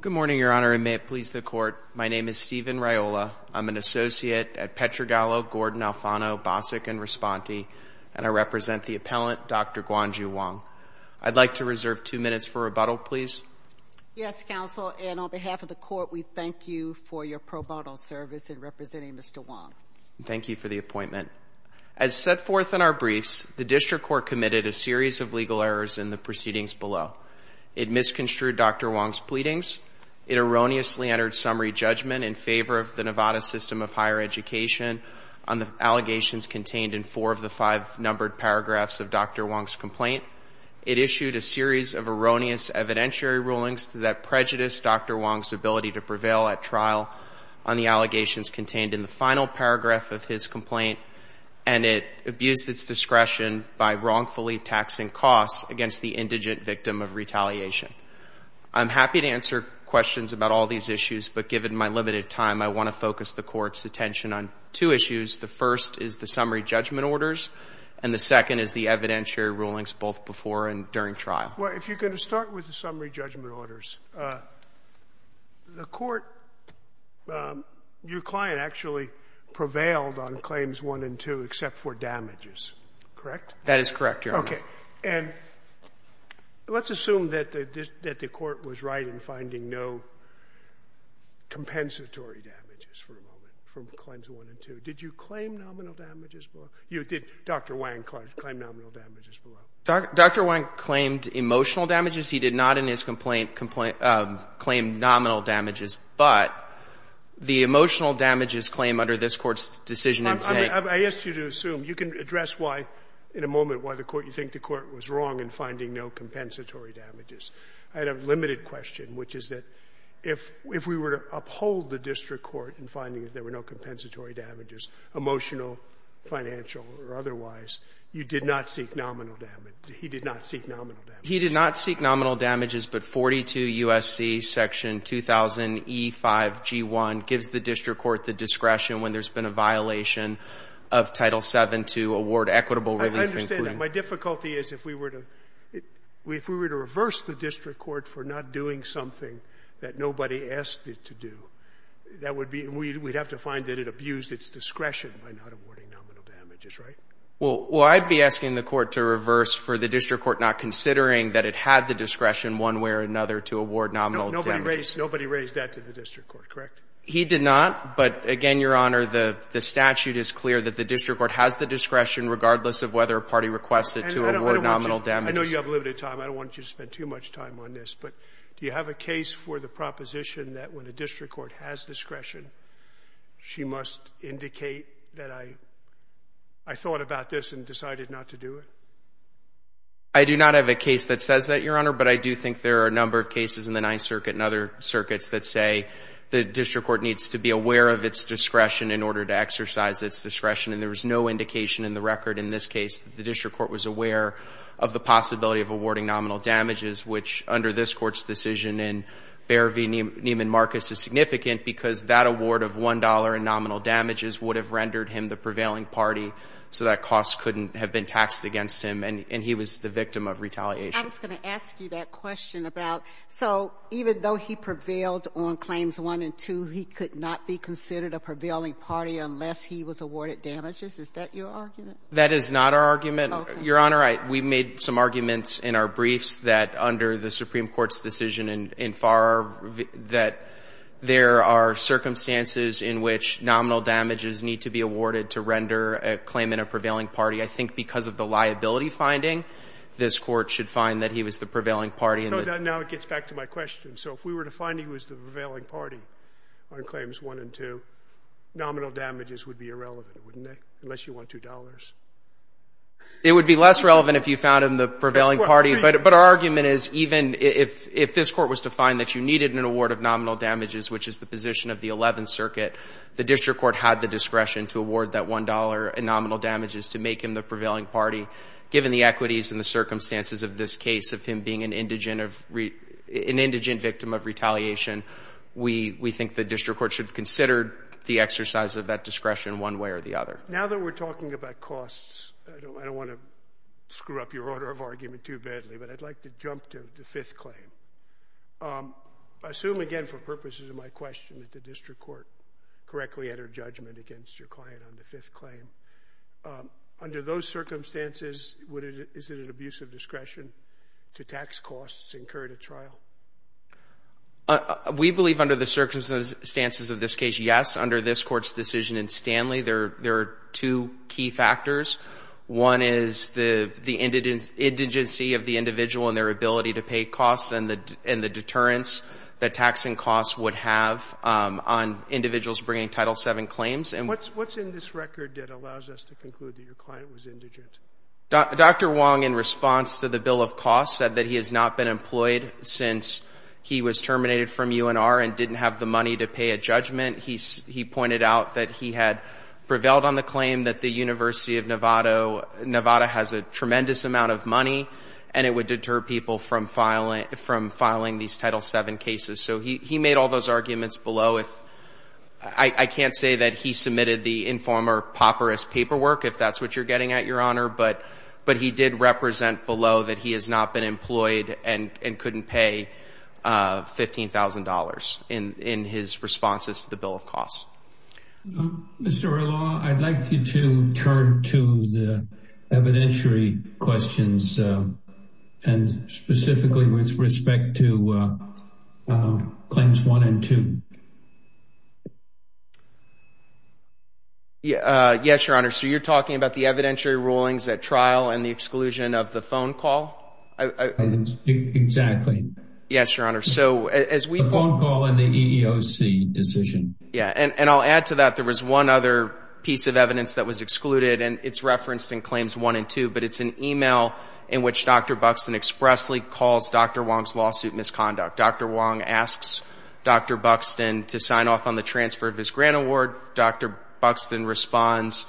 Good morning, Your Honor, and may it please the Court, my name is Stephen Raiola. I'm an associate at Petrogallo, Gordon, Alfano, Bosick, and Responti, and I represent the appellant, Dr. Guangzhu Wang. I'd like to reserve two minutes for rebuttal, please. Yes, Counsel, and on behalf of the Court, we thank you for your pro bono service in representing Mr. Wang. Thank you for the appointment. As set forth in our briefs, the District Court committed a series of legal errors in the Wang's pleadings. It erroneously entered summary judgment in favor of the Nevada System of Higher Education on the allegations contained in four of the five numbered paragraphs of Dr. Wang's complaint. It issued a series of erroneous evidentiary rulings that prejudiced Dr. Wang's ability to prevail at trial on the allegations contained in the final paragraph of his complaint, and it abused its discretion by wrongfully taxing costs against the indigent victim of retaliation. I'm happy to answer questions about all these issues, but given my limited time, I want to focus the Court's attention on two issues. The first is the summary judgment orders, and the second is the evidentiary rulings, both before and during trial. Well, if you're going to start with the summary judgment orders, the Court — your client actually prevailed on Claims 1 and 2 except for damages, correct? That is correct, Your Honor. Okay. And let's assume that the Court was right in finding no compensatory damages for a moment from Claims 1 and 2. Did you claim nominal damages below? Did Dr. Wang claim nominal damages below? Dr. Wang claimed emotional damages. He did not in his complaint claim nominal damages. But the emotional damages claim under this Court's decision in saying — I asked you to assume. You can address why, in a moment, why the Court — you think the Court was wrong in finding no compensatory damages. I had a limited question, which is that if we were to uphold the district court in finding that there were no compensatory damages, emotional, financial, or otherwise, you did not seek nominal damage. He did not seek nominal damages. He did not seek nominal damages, but 42 U.S.C. section 2000e5g1 gives the district court the discretion when there's been a violation of Title VII to award equitable relief. I understand that. My difficulty is if we were to — if we were to reverse the district court for not doing something that nobody asked it to do, that would be — we'd have to find that it abused its discretion by not awarding nominal damages, right? Well, I'd be asking the Court to reverse for the district court not considering that it had the discretion one way or another to award nominal damages. Nobody raised that to the district court, correct? He did not. But again, Your Honor, the statute is clear that the district court has the discretion regardless of whether a party requests it to award nominal And I don't want you — I know you have limited time. I don't want you to spend too much time on this. But do you have a case for the proposition that when a district court has discretion, she must indicate that I — I thought about this and decided not to do it? I do not have a case that says that, Your Honor, but I do think there are a number of cases in the Ninth Circuit and other circuits that say the district court needs to be aware of its discretion in order to exercise its discretion. And there was no indication in the record in this case that the district court was aware of the possibility of awarding nominal damages, which under this court's decision in Beare v. Neiman Marcus is significant because that award of $1 in nominal damages would have rendered him the prevailing party. So that cost couldn't have been taxed against him. And he was the victim of retaliation. I was going to ask you that question about — so even though he prevailed on claims 1 and 2, he could not be considered a prevailing party unless he was awarded damages? Is that your argument? That is not our argument. Okay. Your Honor, we made some arguments in our briefs that under the Supreme Court's decision in Farrar that there are circumstances in which nominal damages need to be awarded to render a claimant a prevailing party. I think because of the liability finding, this Court should find that he was the prevailing party. No. Now it gets back to my question. So if we were to find he was the prevailing party on claims 1 and 2, nominal damages would be irrelevant, wouldn't it, unless you want $2? It would be less relevant if you found him the prevailing party. But our argument is even if this Court was to find that you needed an award of nominal damages, which is the position of the Eleventh Circuit, the district court had the discretion to award that $1 in nominal damages to make him the prevailing party. Given the equities and the circumstances of this case of him being an indigent victim of retaliation, we think the district court should have considered the exercise of that discretion one way or the other. Now that we're talking about costs, I don't want to screw up your order of argument too badly, but I'd like to jump to the fifth claim. I assume, again, for purposes of my question, that the district court correctly entered judgment against your client on the fifth claim. Under those circumstances, is it an abuse of discretion to tax costs incurred at trial? We believe under the circumstances of this case, yes. Under this Court's decision in Stanley, there are two key factors. One is the indigency of the individual and their ability to pay costs and the deterrence that taxing costs would have on individuals bringing Title VII claims. And what's in this record that allows us to conclude that your client was indigent? Dr. Wong, in response to the bill of costs, said that he has not been employed since he was terminated from UNR and didn't have the money to pay a judgment. He pointed out that he had prevailed on the claim that the University of Nevada has a tremendous amount of money and it would deter people from filing these arguments below. I can't say that he submitted the informer papyrus paperwork, if that's what you're getting at, Your Honor, but he did represent below that he has not been employed and couldn't pay $15,000 in his responses to the bill of costs. Mr. Orloff, I'd like you to turn to the evidentiary questions and specifically with respect to Claims 1 and 2. Yes, Your Honor. So you're talking about the evidentiary rulings at trial and the exclusion of the phone call? Exactly. Yes, Your Honor. So as we... The phone call and the EEOC decision. Yeah, and I'll add to that, there was one other piece of evidence that was excluded and it's referenced in Claims 1 and 2, but it's an email in which Dr. Buxton expressly calls Dr. Wong's lawsuit misconduct. Dr. Wong asks Dr. Buxton to sign off on the transfer of his grant award. Dr. Buxton responds,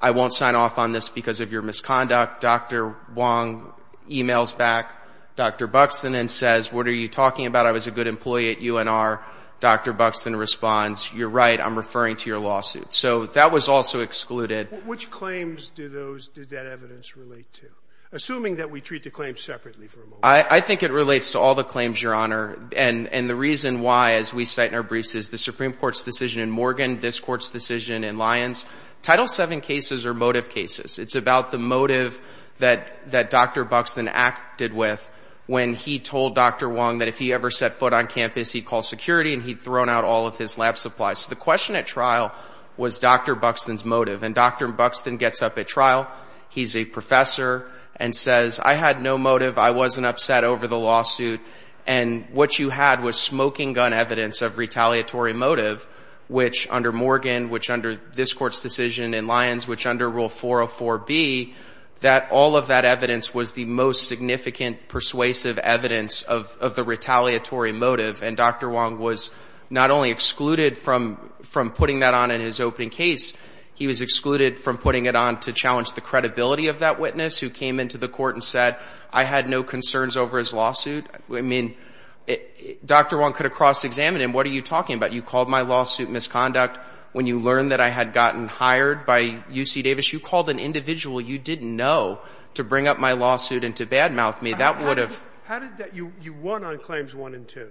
I won't sign off on this because of your misconduct. Dr. Wong emails back Dr. Buxton and says, what are you talking about? I was a good employee at UNR. Dr. Buxton responds, you're right, I'm referring to your lawsuit. So that was also excluded. Which claims did that evidence relate to? Assuming that we treat the claims separately for a moment. I think it relates to all the claims, Your Honor. And the reason why, as we cite in our briefs, is the Supreme Court's decision in Morgan, this Court's decision in Lyons. Title VII cases are motive cases. It's about the motive that Dr. Buxton acted with when he told Dr. Wong that if he ever set foot on campus, he'd call security and he'd thrown out all of his lab supplies. So the question at trial was Dr. Buxton's gets up at trial. He's a professor and says, I had no motive. I wasn't upset over the lawsuit. And what you had was smoking gun evidence of retaliatory motive, which under Morgan, which under this Court's decision in Lyons, which under Rule 404B, that all of that evidence was the most significant persuasive evidence of the retaliatory motive. And Dr. Wong was not only excluded from putting that on in his opening case, he was excluded from putting it on to challenge the credibility of that witness, who came into the Court and said, I had no concerns over his lawsuit. I mean, Dr. Wong could have cross-examined him. What are you talking about? You called my lawsuit misconduct when you learned that I had gotten hired by UC Davis. You called an individual you didn't know to bring up my lawsuit and to badmouth me. That would have ---- How did that ---- you won on Claims 1 and 2.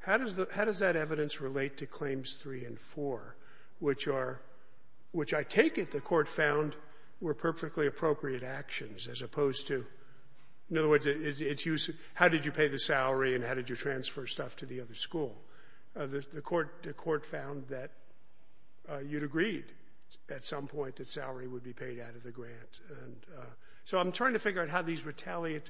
How does that evidence relate to Claims 3 and 4, which I take it the Court found were perfectly appropriate actions as opposed to, in other words, how did you pay the salary and how did you transfer stuff to the other school? The Court found that you'd agreed at some point that salary would be paid out of the grant. So I'm trying to figure out how these retaliate,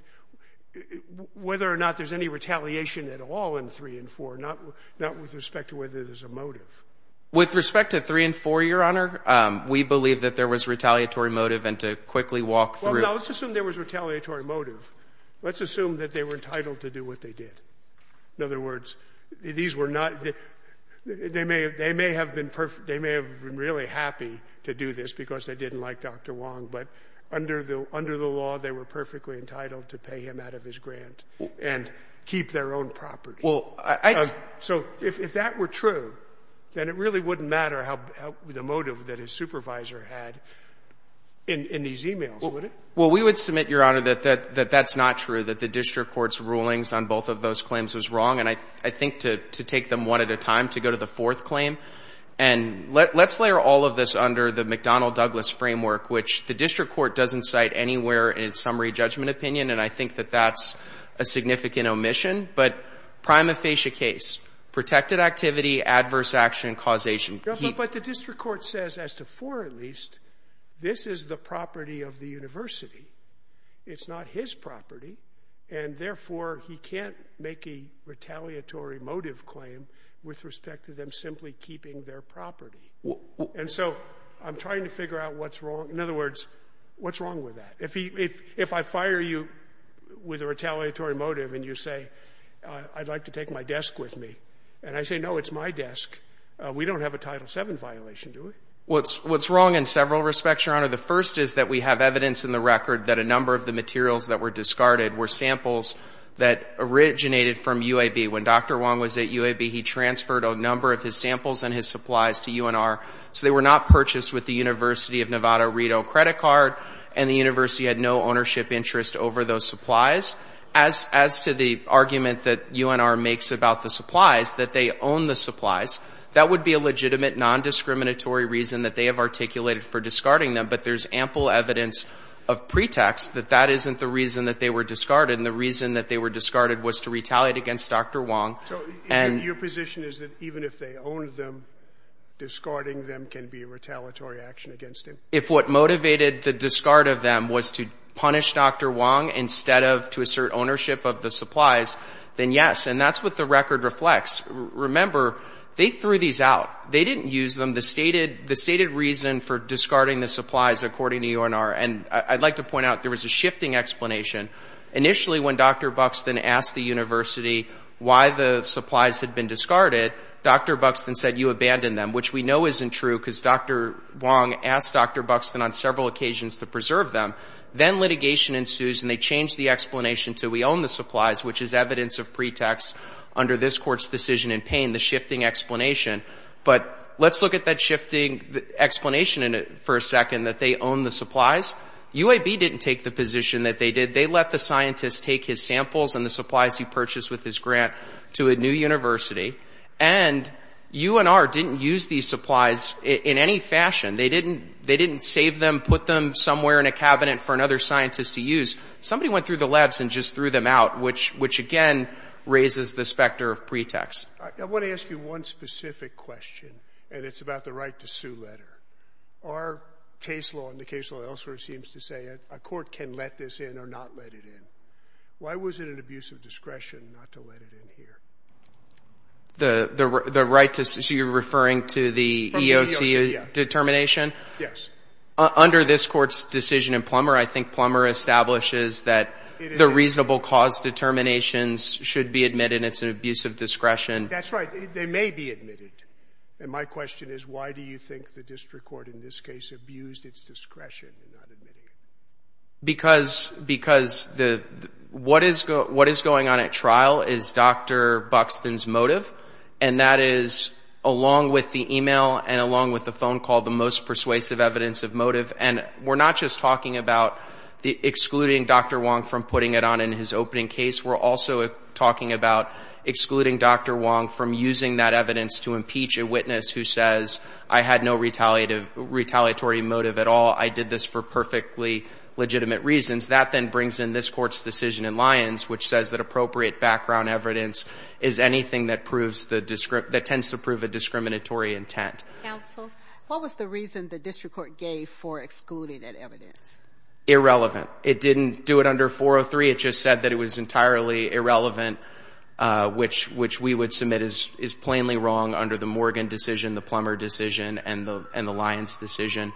whether or not there's any retaliation at all in 3 and 4, not with respect to whether there's a motive. With respect to 3 and 4, Your Honor, we believe that there was retaliatory motive and to quickly walk through ---- Well, now, let's assume there was retaliatory motive. Let's assume that they were entitled to do what they did. In other words, these were not ---- they may have been perfect ---- they may have been really happy to do this because they didn't like Dr. Wong, but under the law, they were perfectly entitled to pay him out of his grant and keep their own property. Well, I ---- So if that were true, then it really wouldn't matter how the motive that his supervisor had in these e-mails, would it? Well, we would submit, Your Honor, that that's not true, that the district court's rulings on both of those claims was wrong. And I think to take them one at a time, to go to the fourth claim, and let's layer all of this under the McDonnell Douglas framework, which the district court doesn't cite anywhere in its summary judgment opinion, and I think that that's a significant omission. But prima facie case, protected activity, adverse action, causation. But the district court says, as to four at least, this is the property of the university. It's not his property, and therefore, he can't make a retaliatory motive claim with respect to them simply keeping their property. And so I'm trying to figure out what's wrong. In other words, what's wrong with that? If he ---- if I fire you with a retaliatory motive, and you say, I'd like to take my desk with me, and I say, no, it's my desk, we don't have a Title VII violation, do we? What's wrong in several respects, Your Honor. The first is that we have evidence in the record that a number of the materials that were discarded were samples that originated from UAB. When Dr. Wong was at UAB, he transferred a number of his samples and his supplies to UNR, so they were not purchased with the interest over those supplies. As to the argument that UNR makes about the supplies, that they own the supplies, that would be a legitimate, nondiscriminatory reason that they have articulated for discarding them. But there's ample evidence of pretext that that isn't the reason that they were discarded, and the reason that they were discarded was to retaliate against Dr. Wong. So your position is that even if they owned them, discarding them can be a retaliatory action against him? If what motivated the discard of them was to punish Dr. Wong instead of to assert ownership of the supplies, then yes, and that's what the record reflects. Remember, they threw these out. They didn't use them. The stated reason for discarding the supplies, according to UNR, and I'd like to point out, there was a shifting explanation. Initially, when Dr. Buxton asked the university why the supplies had been discarded, Dr. Buxton said, you abandoned them, which we know isn't true, because Dr. Wong asked Dr. Buxton on several occasions to preserve them. Then litigation ensues, and they change the explanation to, we own the supplies, which is evidence of pretext under this Court's decision in Payne, the shifting explanation. But let's look at that shifting explanation for a second, that they own the supplies. UAB didn't take the position that they did. They let the scientists take his samples and the supplies he purchased with his grant to a new university, and UNR didn't use these supplies in any fashion. They didn't save them, put them somewhere in a cabinet for another scientist to use. Somebody went through the labs and just threw them out, which again raises the specter of pretext. I want to ask you one specific question, and it's about the right to sue letter. Our case law, and the case law elsewhere, seems to say a court can let this in or not let it in. Why was it an abuse of discretion not to let it in here? So you're referring to the EOC determination? Yes. Under this Court's decision in Plummer, I think Plummer establishes that the reasonable cause determinations should be admitted, and it's an abuse of discretion. That's right. They may be admitted. And my question is, why do you think the district court in this case abused its discretion in not admitting it? Because what is going on at trial is Dr. Buxton's motive, and that is, along with the email and along with the phone call, the most persuasive evidence of motive. And we're not just talking about excluding Dr. Wong from putting it on in his opening case. We're also talking about excluding Dr. Wong from using that evidence to impeach a witness who says, I had no retaliatory motive at all. I did this for perfectly legitimate reasons. That then brings in this Court's decision in Lyons, which says that appropriate background evidence is anything that tends to prove a discriminatory intent. Counsel, what was the reason the district court gave for excluding that evidence? Irrelevant. It didn't do it under 403. It just said that it was entirely irrelevant, which we would submit is plainly wrong under the Morgan decision, the Plummer decision, and the Lyons decision.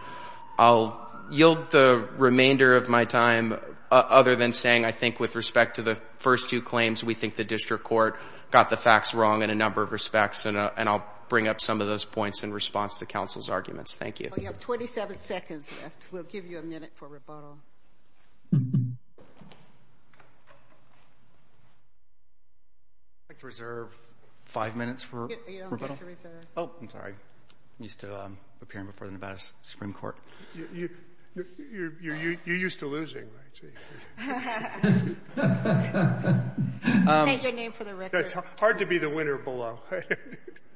I'll yield the remainder of my time, other than saying I think with respect to the first two claims, we think the district court got the facts wrong in a number of respects, and I'll bring up some of those points in response to counsel's arguments. Thank you. You have 27 seconds left. We'll give you a minute for rebuttal. I'd like to reserve five minutes for rebuttal. You don't get to reserve. Oh, I'm sorry. I'm used to appearing before the Nevada Supreme Court. You're used to losing, right? State your name for the record. It's hard to be the winner below.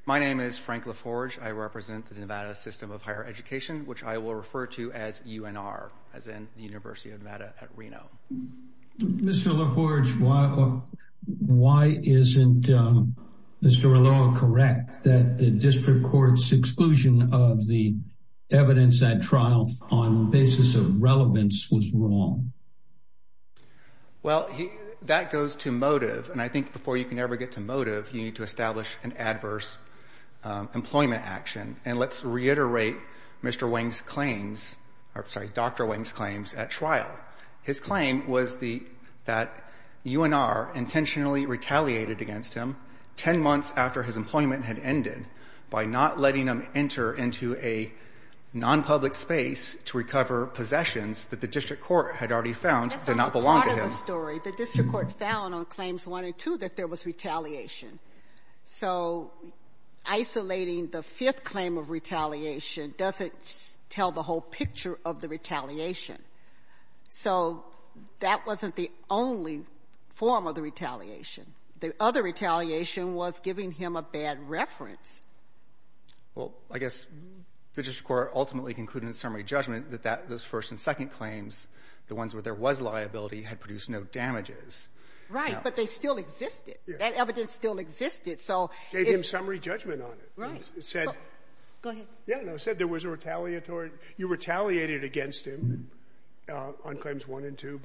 My name is Frank LaForge. I represent the Nevada System of Higher Education, which I will refer to as UNR, as in the University of Nevada at Reno. Mr. LaForge, why isn't Mr. Arloa correct that the district court's exclusion of the evidence at trial on the basis of relevance was wrong? Well, that goes to motive, and I think before you can ever get to motive, you need to establish an adverse employment action. And let's reiterate Dr. Wing's claims at trial. His claim was that UNR intentionally retaliated against him 10 months after his employment had ended by not letting him enter into a nonpublic space to recover possessions that the district court had already found did not belong to him. That's a part of the story. The district court found on Claims 1 and 2 that there was retaliation. So isolating the fifth claim of retaliation doesn't tell the whole picture of the case. That wasn't the only form of the retaliation. The other retaliation was giving him a bad reference. Well, I guess the district court ultimately concluded in summary judgment that those first and second claims, the ones where there was liability, had produced no damages. Right. But they still existed. That evidence still existed. So it's — Gave him summary judgment on it. Right. It said — Go ahead. Yeah. No. It said there was a retaliatory — you retaliated against him on Claims 1 and 2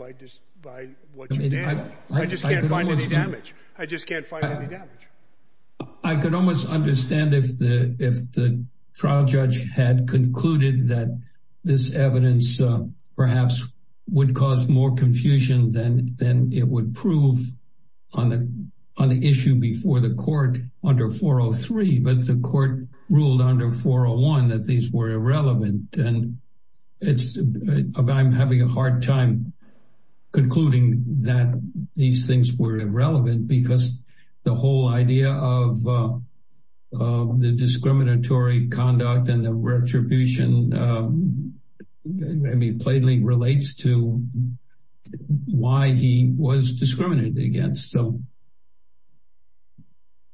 by what you did. I just can't find any damage. I just can't find any damage. I could almost understand if the trial judge had concluded that this evidence perhaps would cause more confusion than it would prove on the issue before the court under 403. But the court ruled under 401 that these were irrelevant. And it's — I'm having a hard time concluding that these things were irrelevant because the whole idea of the discriminatory conduct and the retribution, I mean, plainly relates to why he was discriminated against. So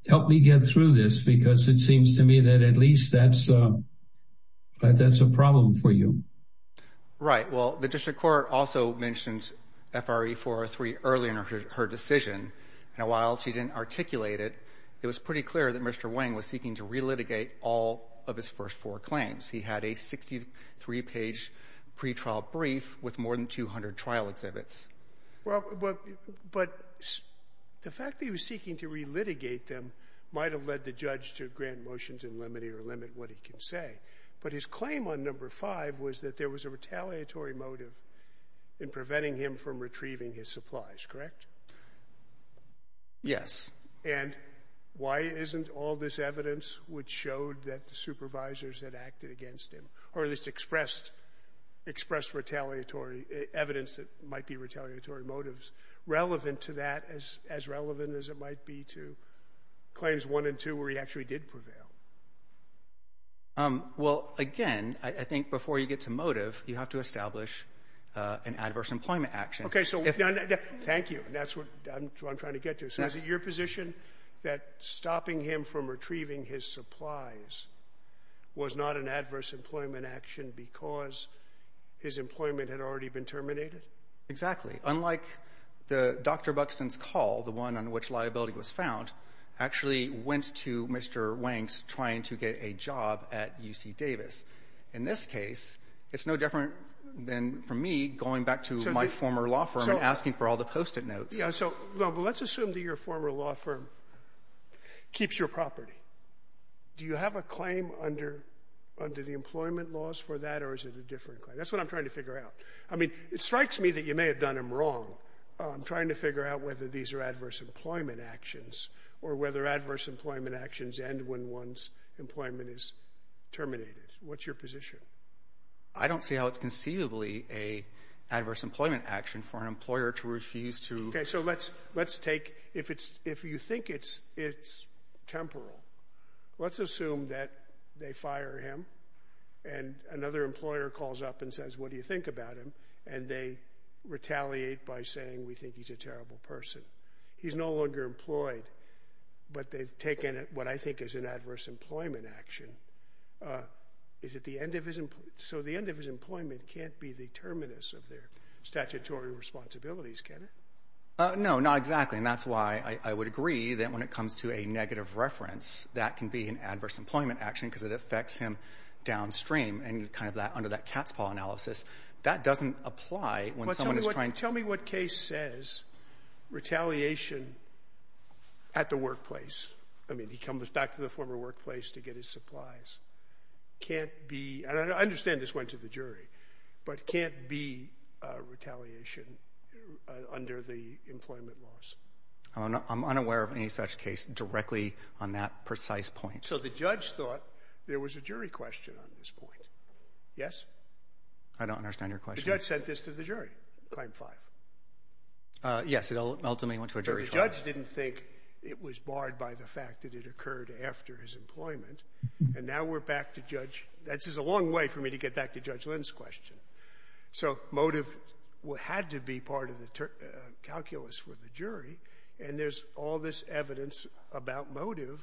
help me get through this because it seems to me that at least that's a problem for you. Right. Well, the district court also mentioned FRE 403 earlier in her decision. And while she didn't articulate it, it was pretty clear that Mr. Wang was seeking to relitigate all of his first four claims. He had a 63-page pretrial brief with more than 200 trial exhibits. Well, but the fact that he was seeking to relitigate them might have led the judge to grant motions and limit what he can say. But his claim on number five was that there was a retaliatory motive in preventing him from retrieving his supplies, correct? Yes. And why isn't all this evidence which showed that the supervisors had acted against him, or at least expressed retaliatory evidence that might be retaliatory motives, relevant to that as relevant as it might be to claims one and two where he actually did prevail? Well, again, I think before you get to motive, you have to establish an adverse employment action. Okay, so thank you. That's what I'm trying to get to. So is it your position that stopping him from retrieving his supplies was not an Exactly. Unlike the Dr. Buxton's call, the one on which liability was found, actually went to Mr. Wang's trying to get a job at UC Davis. In this case, it's no different than for me going back to my former law firm and asking for all the post-it notes. Yeah, so let's assume that your former law firm keeps your property. Do you have a claim under the employment laws for that, or is it a different claim? That's what I'm trying to figure out. I mean, it may have done him wrong. I'm trying to figure out whether these are adverse employment actions, or whether adverse employment actions end when one's employment is terminated. What's your position? I don't see how it's conceivably an adverse employment action for an employer to refuse to Okay, so let's take, if you think it's temporal, let's assume that they retaliate by saying, we think he's a terrible person. He's no longer employed, but they've taken what I think is an adverse employment action. So the end of his employment can't be the terminus of their statutory responsibilities, can it? No, not exactly. And that's why I would agree that when it comes to a negative reference, that can be an adverse employment action because it affects him downstream. And kind of under that cat's paw analysis, that doesn't apply when someone is trying to Tell me what case says retaliation at the workplace. I mean, he comes back to the former workplace to get his supplies. Can't be, I understand this went to the jury, but can't be retaliation under the employment laws. I'm unaware of any such case directly on that precise point. So the judge thought there was a jury question on this point. Yes. I don't understand your question. The judge sent this to the jury. Claim five. Yes, it ultimately went to a jury. So the judge didn't think it was barred by the fact that it occurred after his employment. And now we're back to judge. This is a long way for me to get back to Judge Lynn's question. So motive had to be part of the calculus for the jury. And there's all this evidence about motive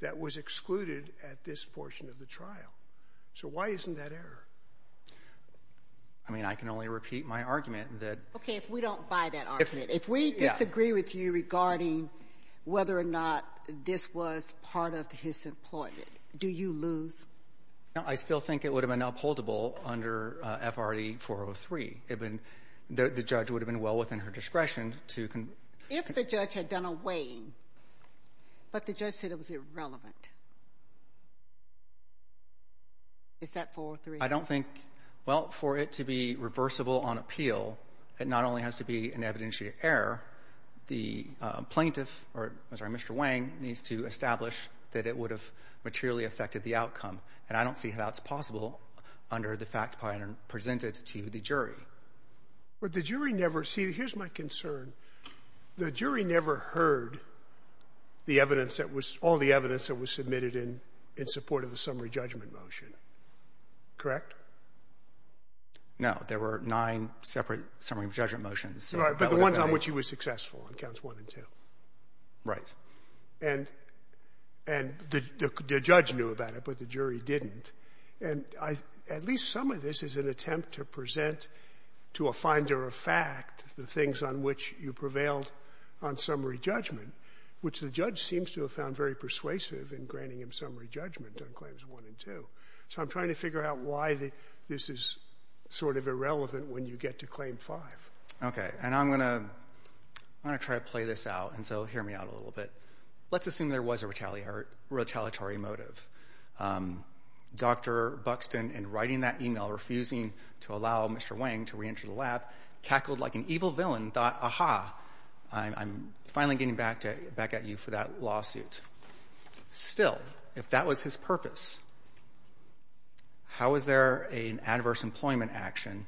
that was excluded at this portion of the trial. So why isn't that error? I mean, I can only repeat my argument that Okay, if we don't buy that argument, if we disagree with you regarding whether or not this was part of his employment, do you lose? No, I still think it would have been upholdable under FRD 403. The judge would have been well within her right. Is that 43? I don't think. Well, for it to be reversible on appeal, it not only has to be an evidentiary error. The plaintiff or Mr. Wang needs to establish that it would have materially affected the outcome. And I don't see how it's possible under the fact presented to the jury. But the jury never see. Here's my concern. The jury never heard the evidence that was all the evidence that was submitted in in support of the summary judgment motion. Correct? No, there were nine separate summary judgment motions, but the ones on which he was successful on counts one and two. Right. And and the judge knew about it, but the jury didn't. And I at least some of this is an attempt to present to a finder of fact the things on which you prevailed on summary judgment, which the judge seems to have found very persuasive in granting him summary judgment on claims one and two. So I'm trying to figure out why this is sort of irrelevant when you get to claim five. Okay. And I'm going to, I'm going to try to play this out. And so hear me out a little bit. Let's assume there was a retaliatory motive. Dr. Buxton and writing that email refusing to allow Mr. Wang to reenter the lab, cackled like an evil villain thought, aha, I'm finally getting back to back at you for that lawsuit. Still, if that was his purpose, how is there a an adverse employment action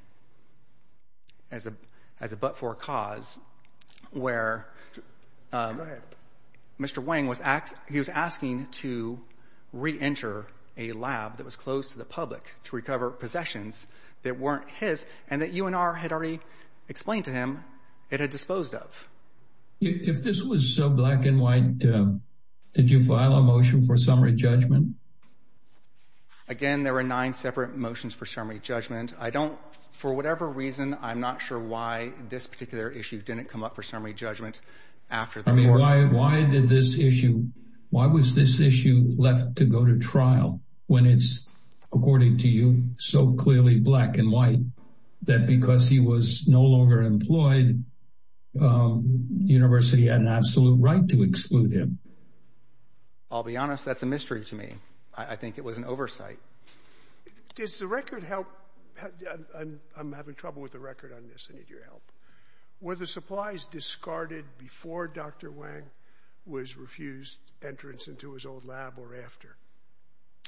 as a as a but for cause where Mr. Wang was asking to reenter a lab that was closed to the public to recover possessions that weren't his and that you and R had already explained to him it had disposed of. If this was so black and white, did you file a motion for summary judgment? Again, there were nine separate motions for summary judgment. I don't, for whatever reason, I'm not sure why this particular issue didn't come up for summary judgment after. I mean, why, why did this issue, why was this issue left to go to trial when it's according to you so clearly black and white that because he was no longer employed? University had an absolute right to exclude him. I'll be honest. That's a mystery to me. I think it was an oversight. Does the record help? I'm having trouble with the record on this. I need your help with the supplies discarded before Dr. Wang was refused entrance into his old lab or after.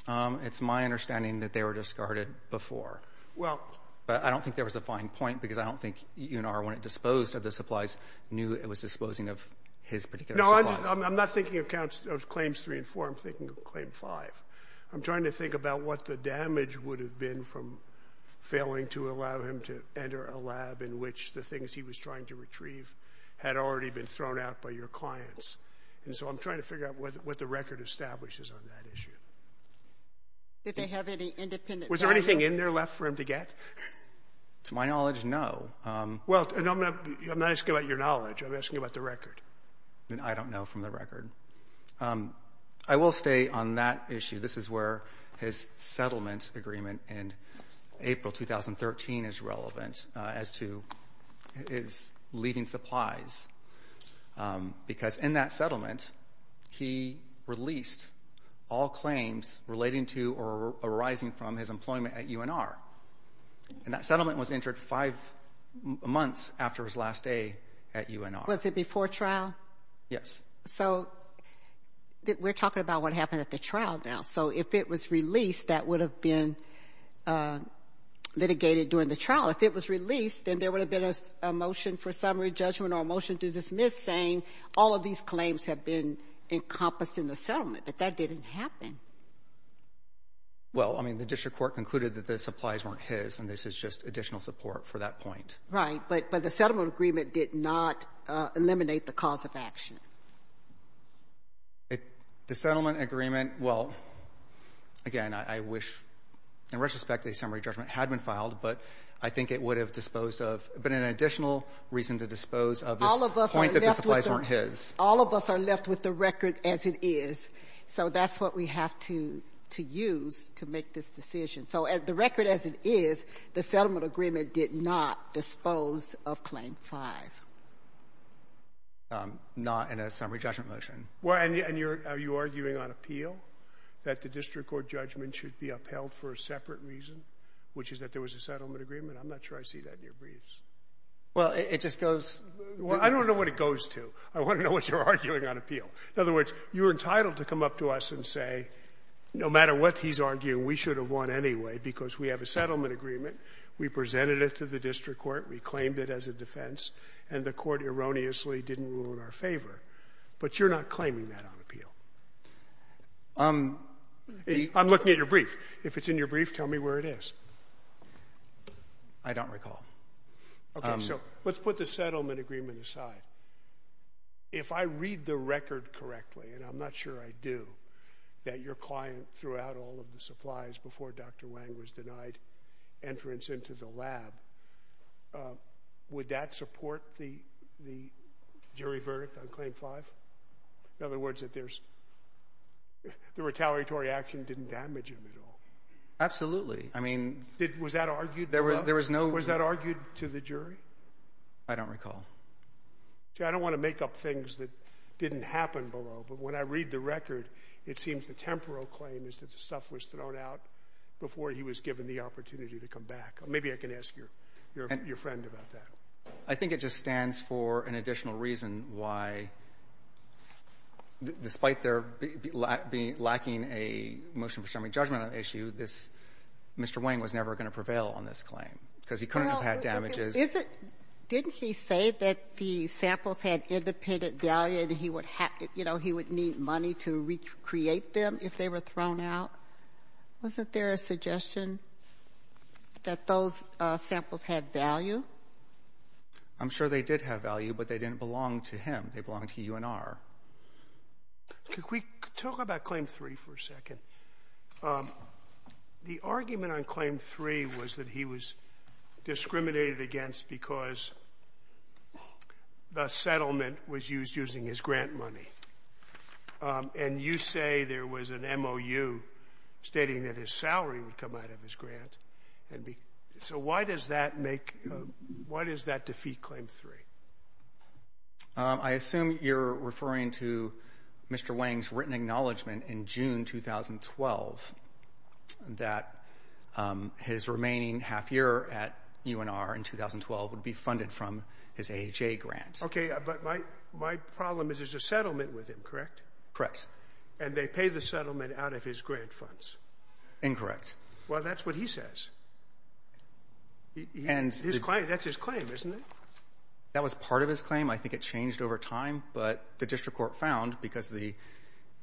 Um, it's my understanding that they were discarded before. Well, I don't think there was a fine point because I don't think you and R when it disposed of the supplies knew it was disposing of his particular. I'm not thinking accounts of claims three and four. I'm thinking of claim five. I'm trying to think about what the damage would have been from failing to allow him to enter a lab in which the things he was trying to retrieve had already been thrown out by your clients. And so I'm trying to figure out what the record establishes on that issue. Did they have any independent, was there anything in there left for him to get to my knowledge? No. Um, well, I'm not asking about your knowledge. I'm asking about the record and I don't know from the record. Um, I will stay on that issue. This is where his settlement agreement in April 2013 is relevant as to his leaving supplies. Um, because in that settlement he released all claims relating to or arising from his employment at UNR and that settlement was entered five months after his last day at UNR. Was it before trial? Yes. So we're talking about what happened at the trial now. So if it was released, that would have been litigated during the trial. If it was released, then there would have been a motion for summary judgment or a motion to dismiss saying all of these claims have been encompassed in the settlement. But that didn't happen. Well, I mean, the district court concluded that the supplies weren't his and this is just additional support for that point. Right. But the settlement agreement did not eliminate the cause of action. The settlement agreement, well, again, I wish in retrospect a summary judgment had been filed, but I think it would have disposed of but an additional reason to dispose of this point that the supplies weren't his. All of us are left with the record as it is. So that's what we have to use to make this decision. So the record as it is, the settlement agreement did not dispose of claim five. Not in a summary judgment motion. Well, and are you arguing on appeal that the district court judgment should be upheld for a separate reason, which is that there was a settlement agreement? I'm not sure I see that in your briefs. Well, it just goes. I don't know what it goes to. I want to know what you're arguing on appeal. In other words, you're entitled to come up to us and say, no matter what he's arguing, we should have won anyway, because we have a settlement agreement. We presented it to the district court. We claimed it as a defense, and the court erroneously didn't rule in our favor. But you're not claiming that on appeal. I'm looking at your brief. If it's in your brief, tell me where it is. I don't recall. Okay, so let's put the settlement agreement aside. If I read the record correctly, and I'm not sure I do, that your client threw out all of the evidence, would that support the jury verdict on Claim 5? In other words, the retaliatory action didn't damage him at all? Absolutely. I mean, was that argued to the jury? I don't recall. See, I don't want to make up things that didn't happen below, but when I read the record, it seems the temporal claim is that the stuff was thrown out before he was given the opportunity to come back. Maybe I can ask your friend about that. I think it just stands for an additional reason why, despite their lacking a motion-preserving judgment on the issue, this Mr. Wayne was never going to prevail on this claim, because he couldn't have had damages. Well, is it — didn't he say that the samples had independent value and he would have — you know, he would need money to recreate them if they were thrown out? Wasn't there a suggestion that those samples had value? I'm sure they did have value, but they didn't belong to him. They belonged to UNR. Could we talk about Claim 3 for a second? The argument on Claim 3 was that he was discriminated against because the settlement was used using his grant money, and you say there was an MOU stating that his salary would come out of his grant. So why does that make — why does that defeat Claim 3? I assume you're referring to Mr. Wayne's written acknowledgement in June 2012 that his remaining half-year at UNR in 2012 would be funded from his AHA grant. Okay, but my problem is there's a settlement with him, correct? Correct. And they pay the settlement out of his grant funds? Incorrect. Well, that's what he says. His claim — that's his claim, isn't it? That was part of his claim. I think it changed over time, but the district court found, because the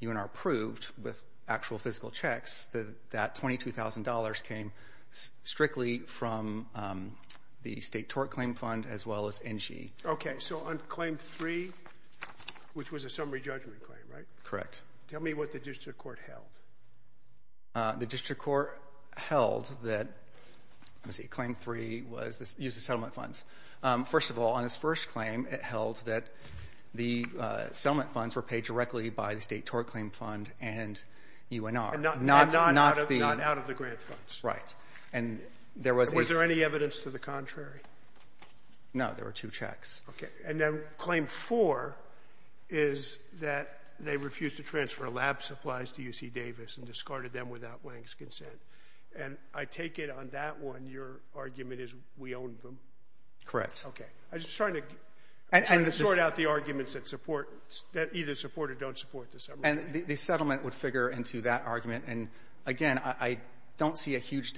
UNR approved with actual physical checks, that $22,000 came strictly from the state tort claim fund as well as NG. Okay, so on Claim 3, which was a summary judgment claim, right? Correct. Tell me what the district court held. The district court held that — let me see, Claim 3 was — used the settlement funds. First of all, on his first claim, it held that the settlement funds were paid directly by the state tort claim fund and UNR, not the — And not out of the grant funds. Right. And there was — Was there any evidence to the contrary? No, there were two checks. Okay. And then Claim 4 is that they refused to transfer lab supplies to UC Davis and discarded them without Wang's consent. And I take it on that one, your argument is we owned them? Correct. Okay. I was just trying to — And the — Sort out the arguments that support — that either support or don't support the summary. And the settlement would figure into that argument. And again, I don't see a huge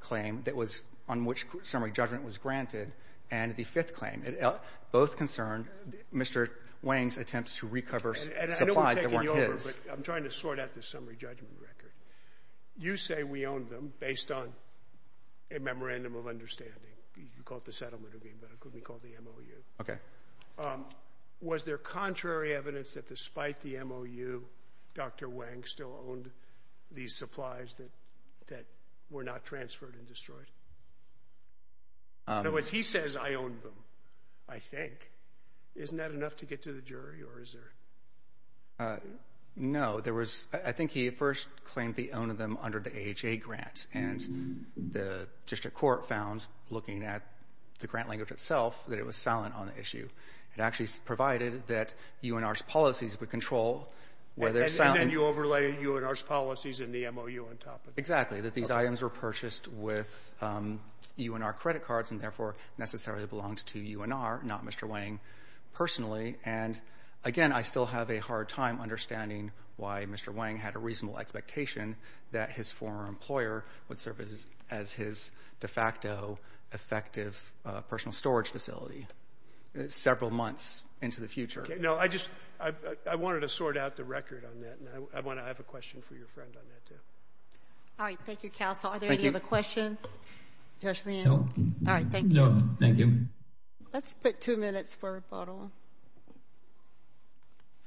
claim that was — on which summary judgment was granted. And the fifth claim, it — both concerned Mr. Wang's attempts to recover supplies that weren't his. And I know we're taking you over, but I'm trying to sort out the summary judgment record. You say we owned them based on a memorandum of understanding. You call it the settlement agreement, but it could be called the MOU. Okay. Was there contrary evidence that despite the MOU, Dr. Wang still owned these supplies that were not transferred and destroyed? In other words, he says, I owned them, I think. Isn't that enough to get to the jury? Or is there — No. There was — I think he first claimed the own of them under the AHA grant. And the district court found, looking at the grant language itself, that it was silent on the issue. It actually provided that UNR's policies would control whether — And then you overlay UNR's policies in the MOU on top of it. Exactly. That these items were purchased with UNR credit cards and therefore necessarily belonged to UNR, not Mr. Wang personally. And again, I still have a hard time understanding why Mr. Wang had a reasonable expectation that his former employer would serve as his de facto effective personal storage facility several months into the future. No, I just — I wanted to sort out the record on that. And I want to have a question for your friend on that, too. All right. Thank you, counsel. Are there any other questions? Judge Lee? No. All right. Thank you. No. Thank you. Let's put two minutes for rebuttal.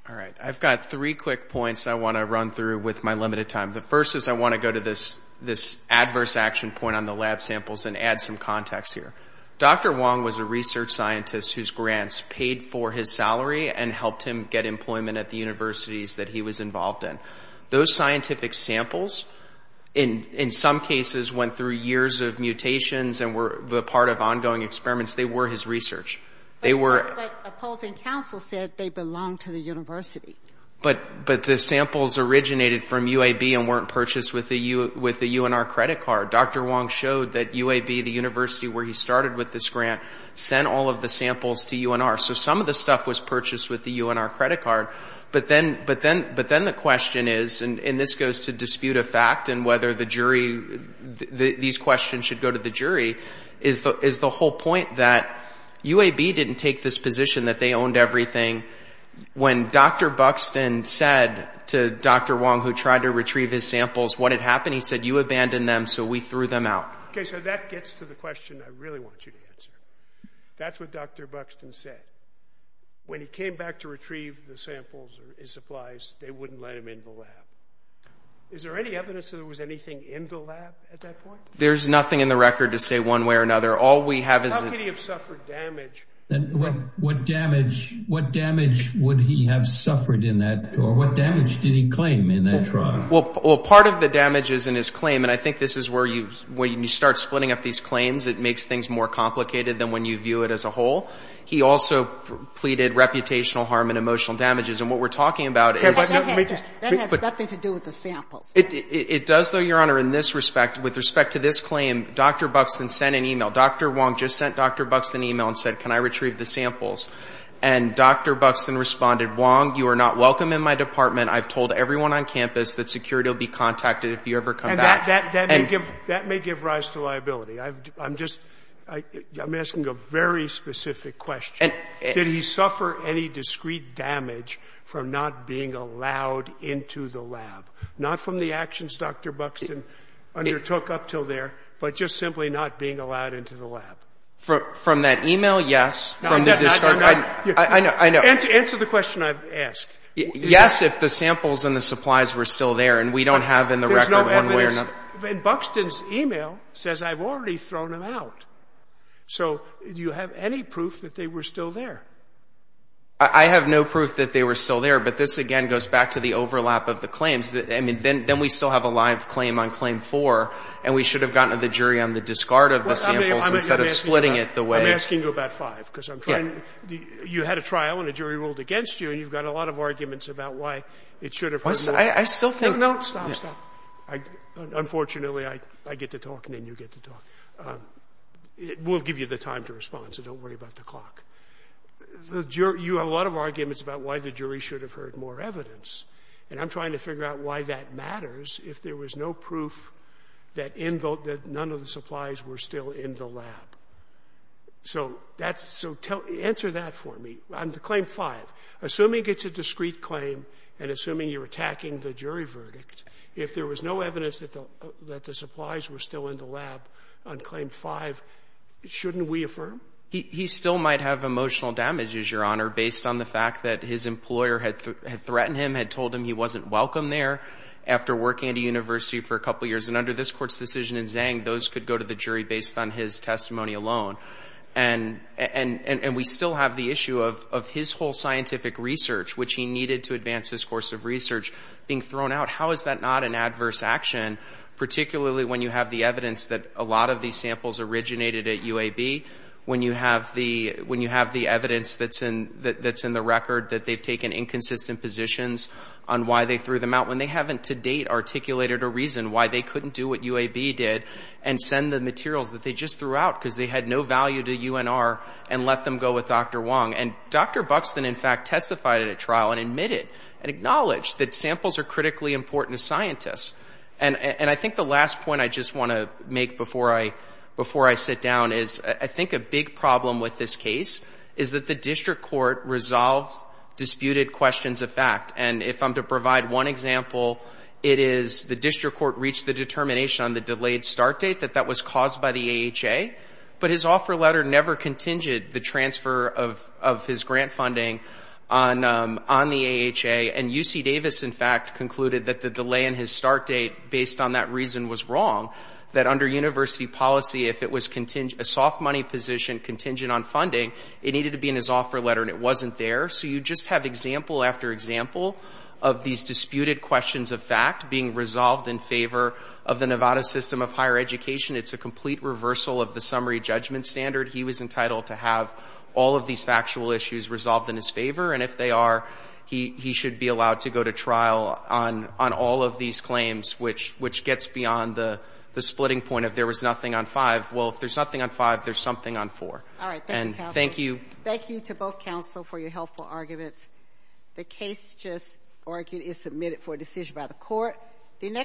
All right. I've got three quick points I want to run through with my limited time. The first is I want to go to this adverse action point on the lab samples and add some context here. Dr. Wang was a research scientist whose grants paid for his salary and helped him get employment at the universities that he was involved in. Those scientific samples, in some cases, went through years of mutations and were part of ongoing experiments. They were his research. But opposing counsel said they belonged to the university. But the samples originated from UAB and weren't purchased with the UNR credit card. Dr. Wang showed that UAB, the university where he started with this grant, sent all of the samples to UNR. So some of the stuff was purchased with the UNR credit card. But then the question is — and this goes to dispute of fact and whether the jury — these questions should go to the jury — is the whole point that UAB didn't take this position that they owned everything. When Dr. Buxton said to Dr. Wang, who tried to retrieve his samples, what had happened, he said, you abandoned them, so we threw them out. Okay, so that gets to the question I really want you to answer. That's what Dr. Buxton said. When he came back to retrieve the samples or his supplies, they wouldn't let him in the lab. Is there any evidence that there was anything in the lab at that point? There's nothing in the record to say one way or another. All we have is — How could he have suffered damage? And what damage would he have suffered in that — or what damage did he claim in that trial? Well, part of the damage is in his claim. And I think this is where you — when you start splitting up these claims, it makes things more complicated than when you view it as a whole. He also pleaded reputational harm and emotional damages. And what we're talking about is — Okay, but that has nothing to do with the samples. It does, though, Your Honor, in this respect. With respect to this claim, Dr. Buxton sent an e-mail. Dr. Wang just sent Dr. Buxton an e-mail and said, can I retrieve the samples? And Dr. Buxton responded, Wang, you are not welcome in my department. I've told everyone on campus that security will be contacted if you ever come back. And that may give — that may give rise to liability. I'm just — I'm asking a very specific question. Did he suffer any discrete damage from not being allowed into the lab? Not from the actions Dr. Buxton undertook up till there, but just simply not being allowed into the lab? From that e-mail, yes. From the discharge — No, I'm not — I know. I know. Answer the question I've asked. Yes, if the samples and the supplies were still there, and we don't have in the record one way or another. There's no evidence. And Buxton's e-mail says I've already thrown them out. So do you have any proof that they were still there? I have no proof that they were still there. But this, again, goes back to the overlap of the claims. I mean, then we still have a live claim on Claim 4, and we should have gotten to the jury on the discard of the samples instead of splitting it the way — I'm asking you about five, because I'm trying — you had a trial and a jury ruled against you, and you've got a lot of arguments about why it should have — I still think — No, stop, stop. Unfortunately, I get to talk, and then you get to talk. We'll give you the time to respond, so don't worry about the clock. You have a lot of arguments about why the jury should have heard more evidence. And I'm trying to figure out why that matters if there was no proof that none of the supplies were still in the lab. So that's — so answer that for me. On Claim 5, assuming it's a discreet claim and assuming you're attacking the jury verdict, if there was no evidence that the supplies were still in the lab on Claim 5, shouldn't we affirm? He still might have emotional damages, Your Honor, based on the fact that his employer had threatened him, had told him he wasn't welcome there after working at a university for a couple years. And under this Court's decision in Zhang, those could go to the jury based on his testimony alone. And we still have the issue of his whole scientific research, which he needed to advance his course of research, being thrown out. How is that not an adverse action, particularly when you have the evidence that a lot of these samples originated at UAB, when you have the evidence that's in the record that they've taken inconsistent positions on why they threw them out, when they haven't to date articulated a reason why they couldn't do what UAB did and send the materials that they just threw out because they had no value to UNR and let them go with Dr. Wong. And Dr. Buxton, in fact, testified at a trial and admitted and acknowledged that samples are critically important to scientists. And I think the last point I just want to make before I sit down is I think a big problem with this case is that the district court resolved disputed questions of fact. And if I'm to provide one example, it is the district court reached the determination on the delayed start date that that was caused by the AHA. But his offer letter never contingent the transfer of his grant funding on the AHA. And UC Davis, in fact, concluded that the delay in his start date based on that reason was wrong, that under university policy, if it was a soft money position contingent on funding, it needed to be in his offer letter and it wasn't there. So you just have example after example of these disputed questions of fact being resolved in favor of the Nevada system of higher education. It's a complete reversal of the summary judgment standard. He was entitled to have all of these factual issues resolved in his favor. And if they are, he should be allowed to go to trial on all of these claims, which gets beyond the splitting point of there was nothing on five. Well, if there's nothing on five, there's something on four. All right. Thank you. Thank you. Thank you to both counsel for your helpful arguments. The case just argued is submitted for decision by the court.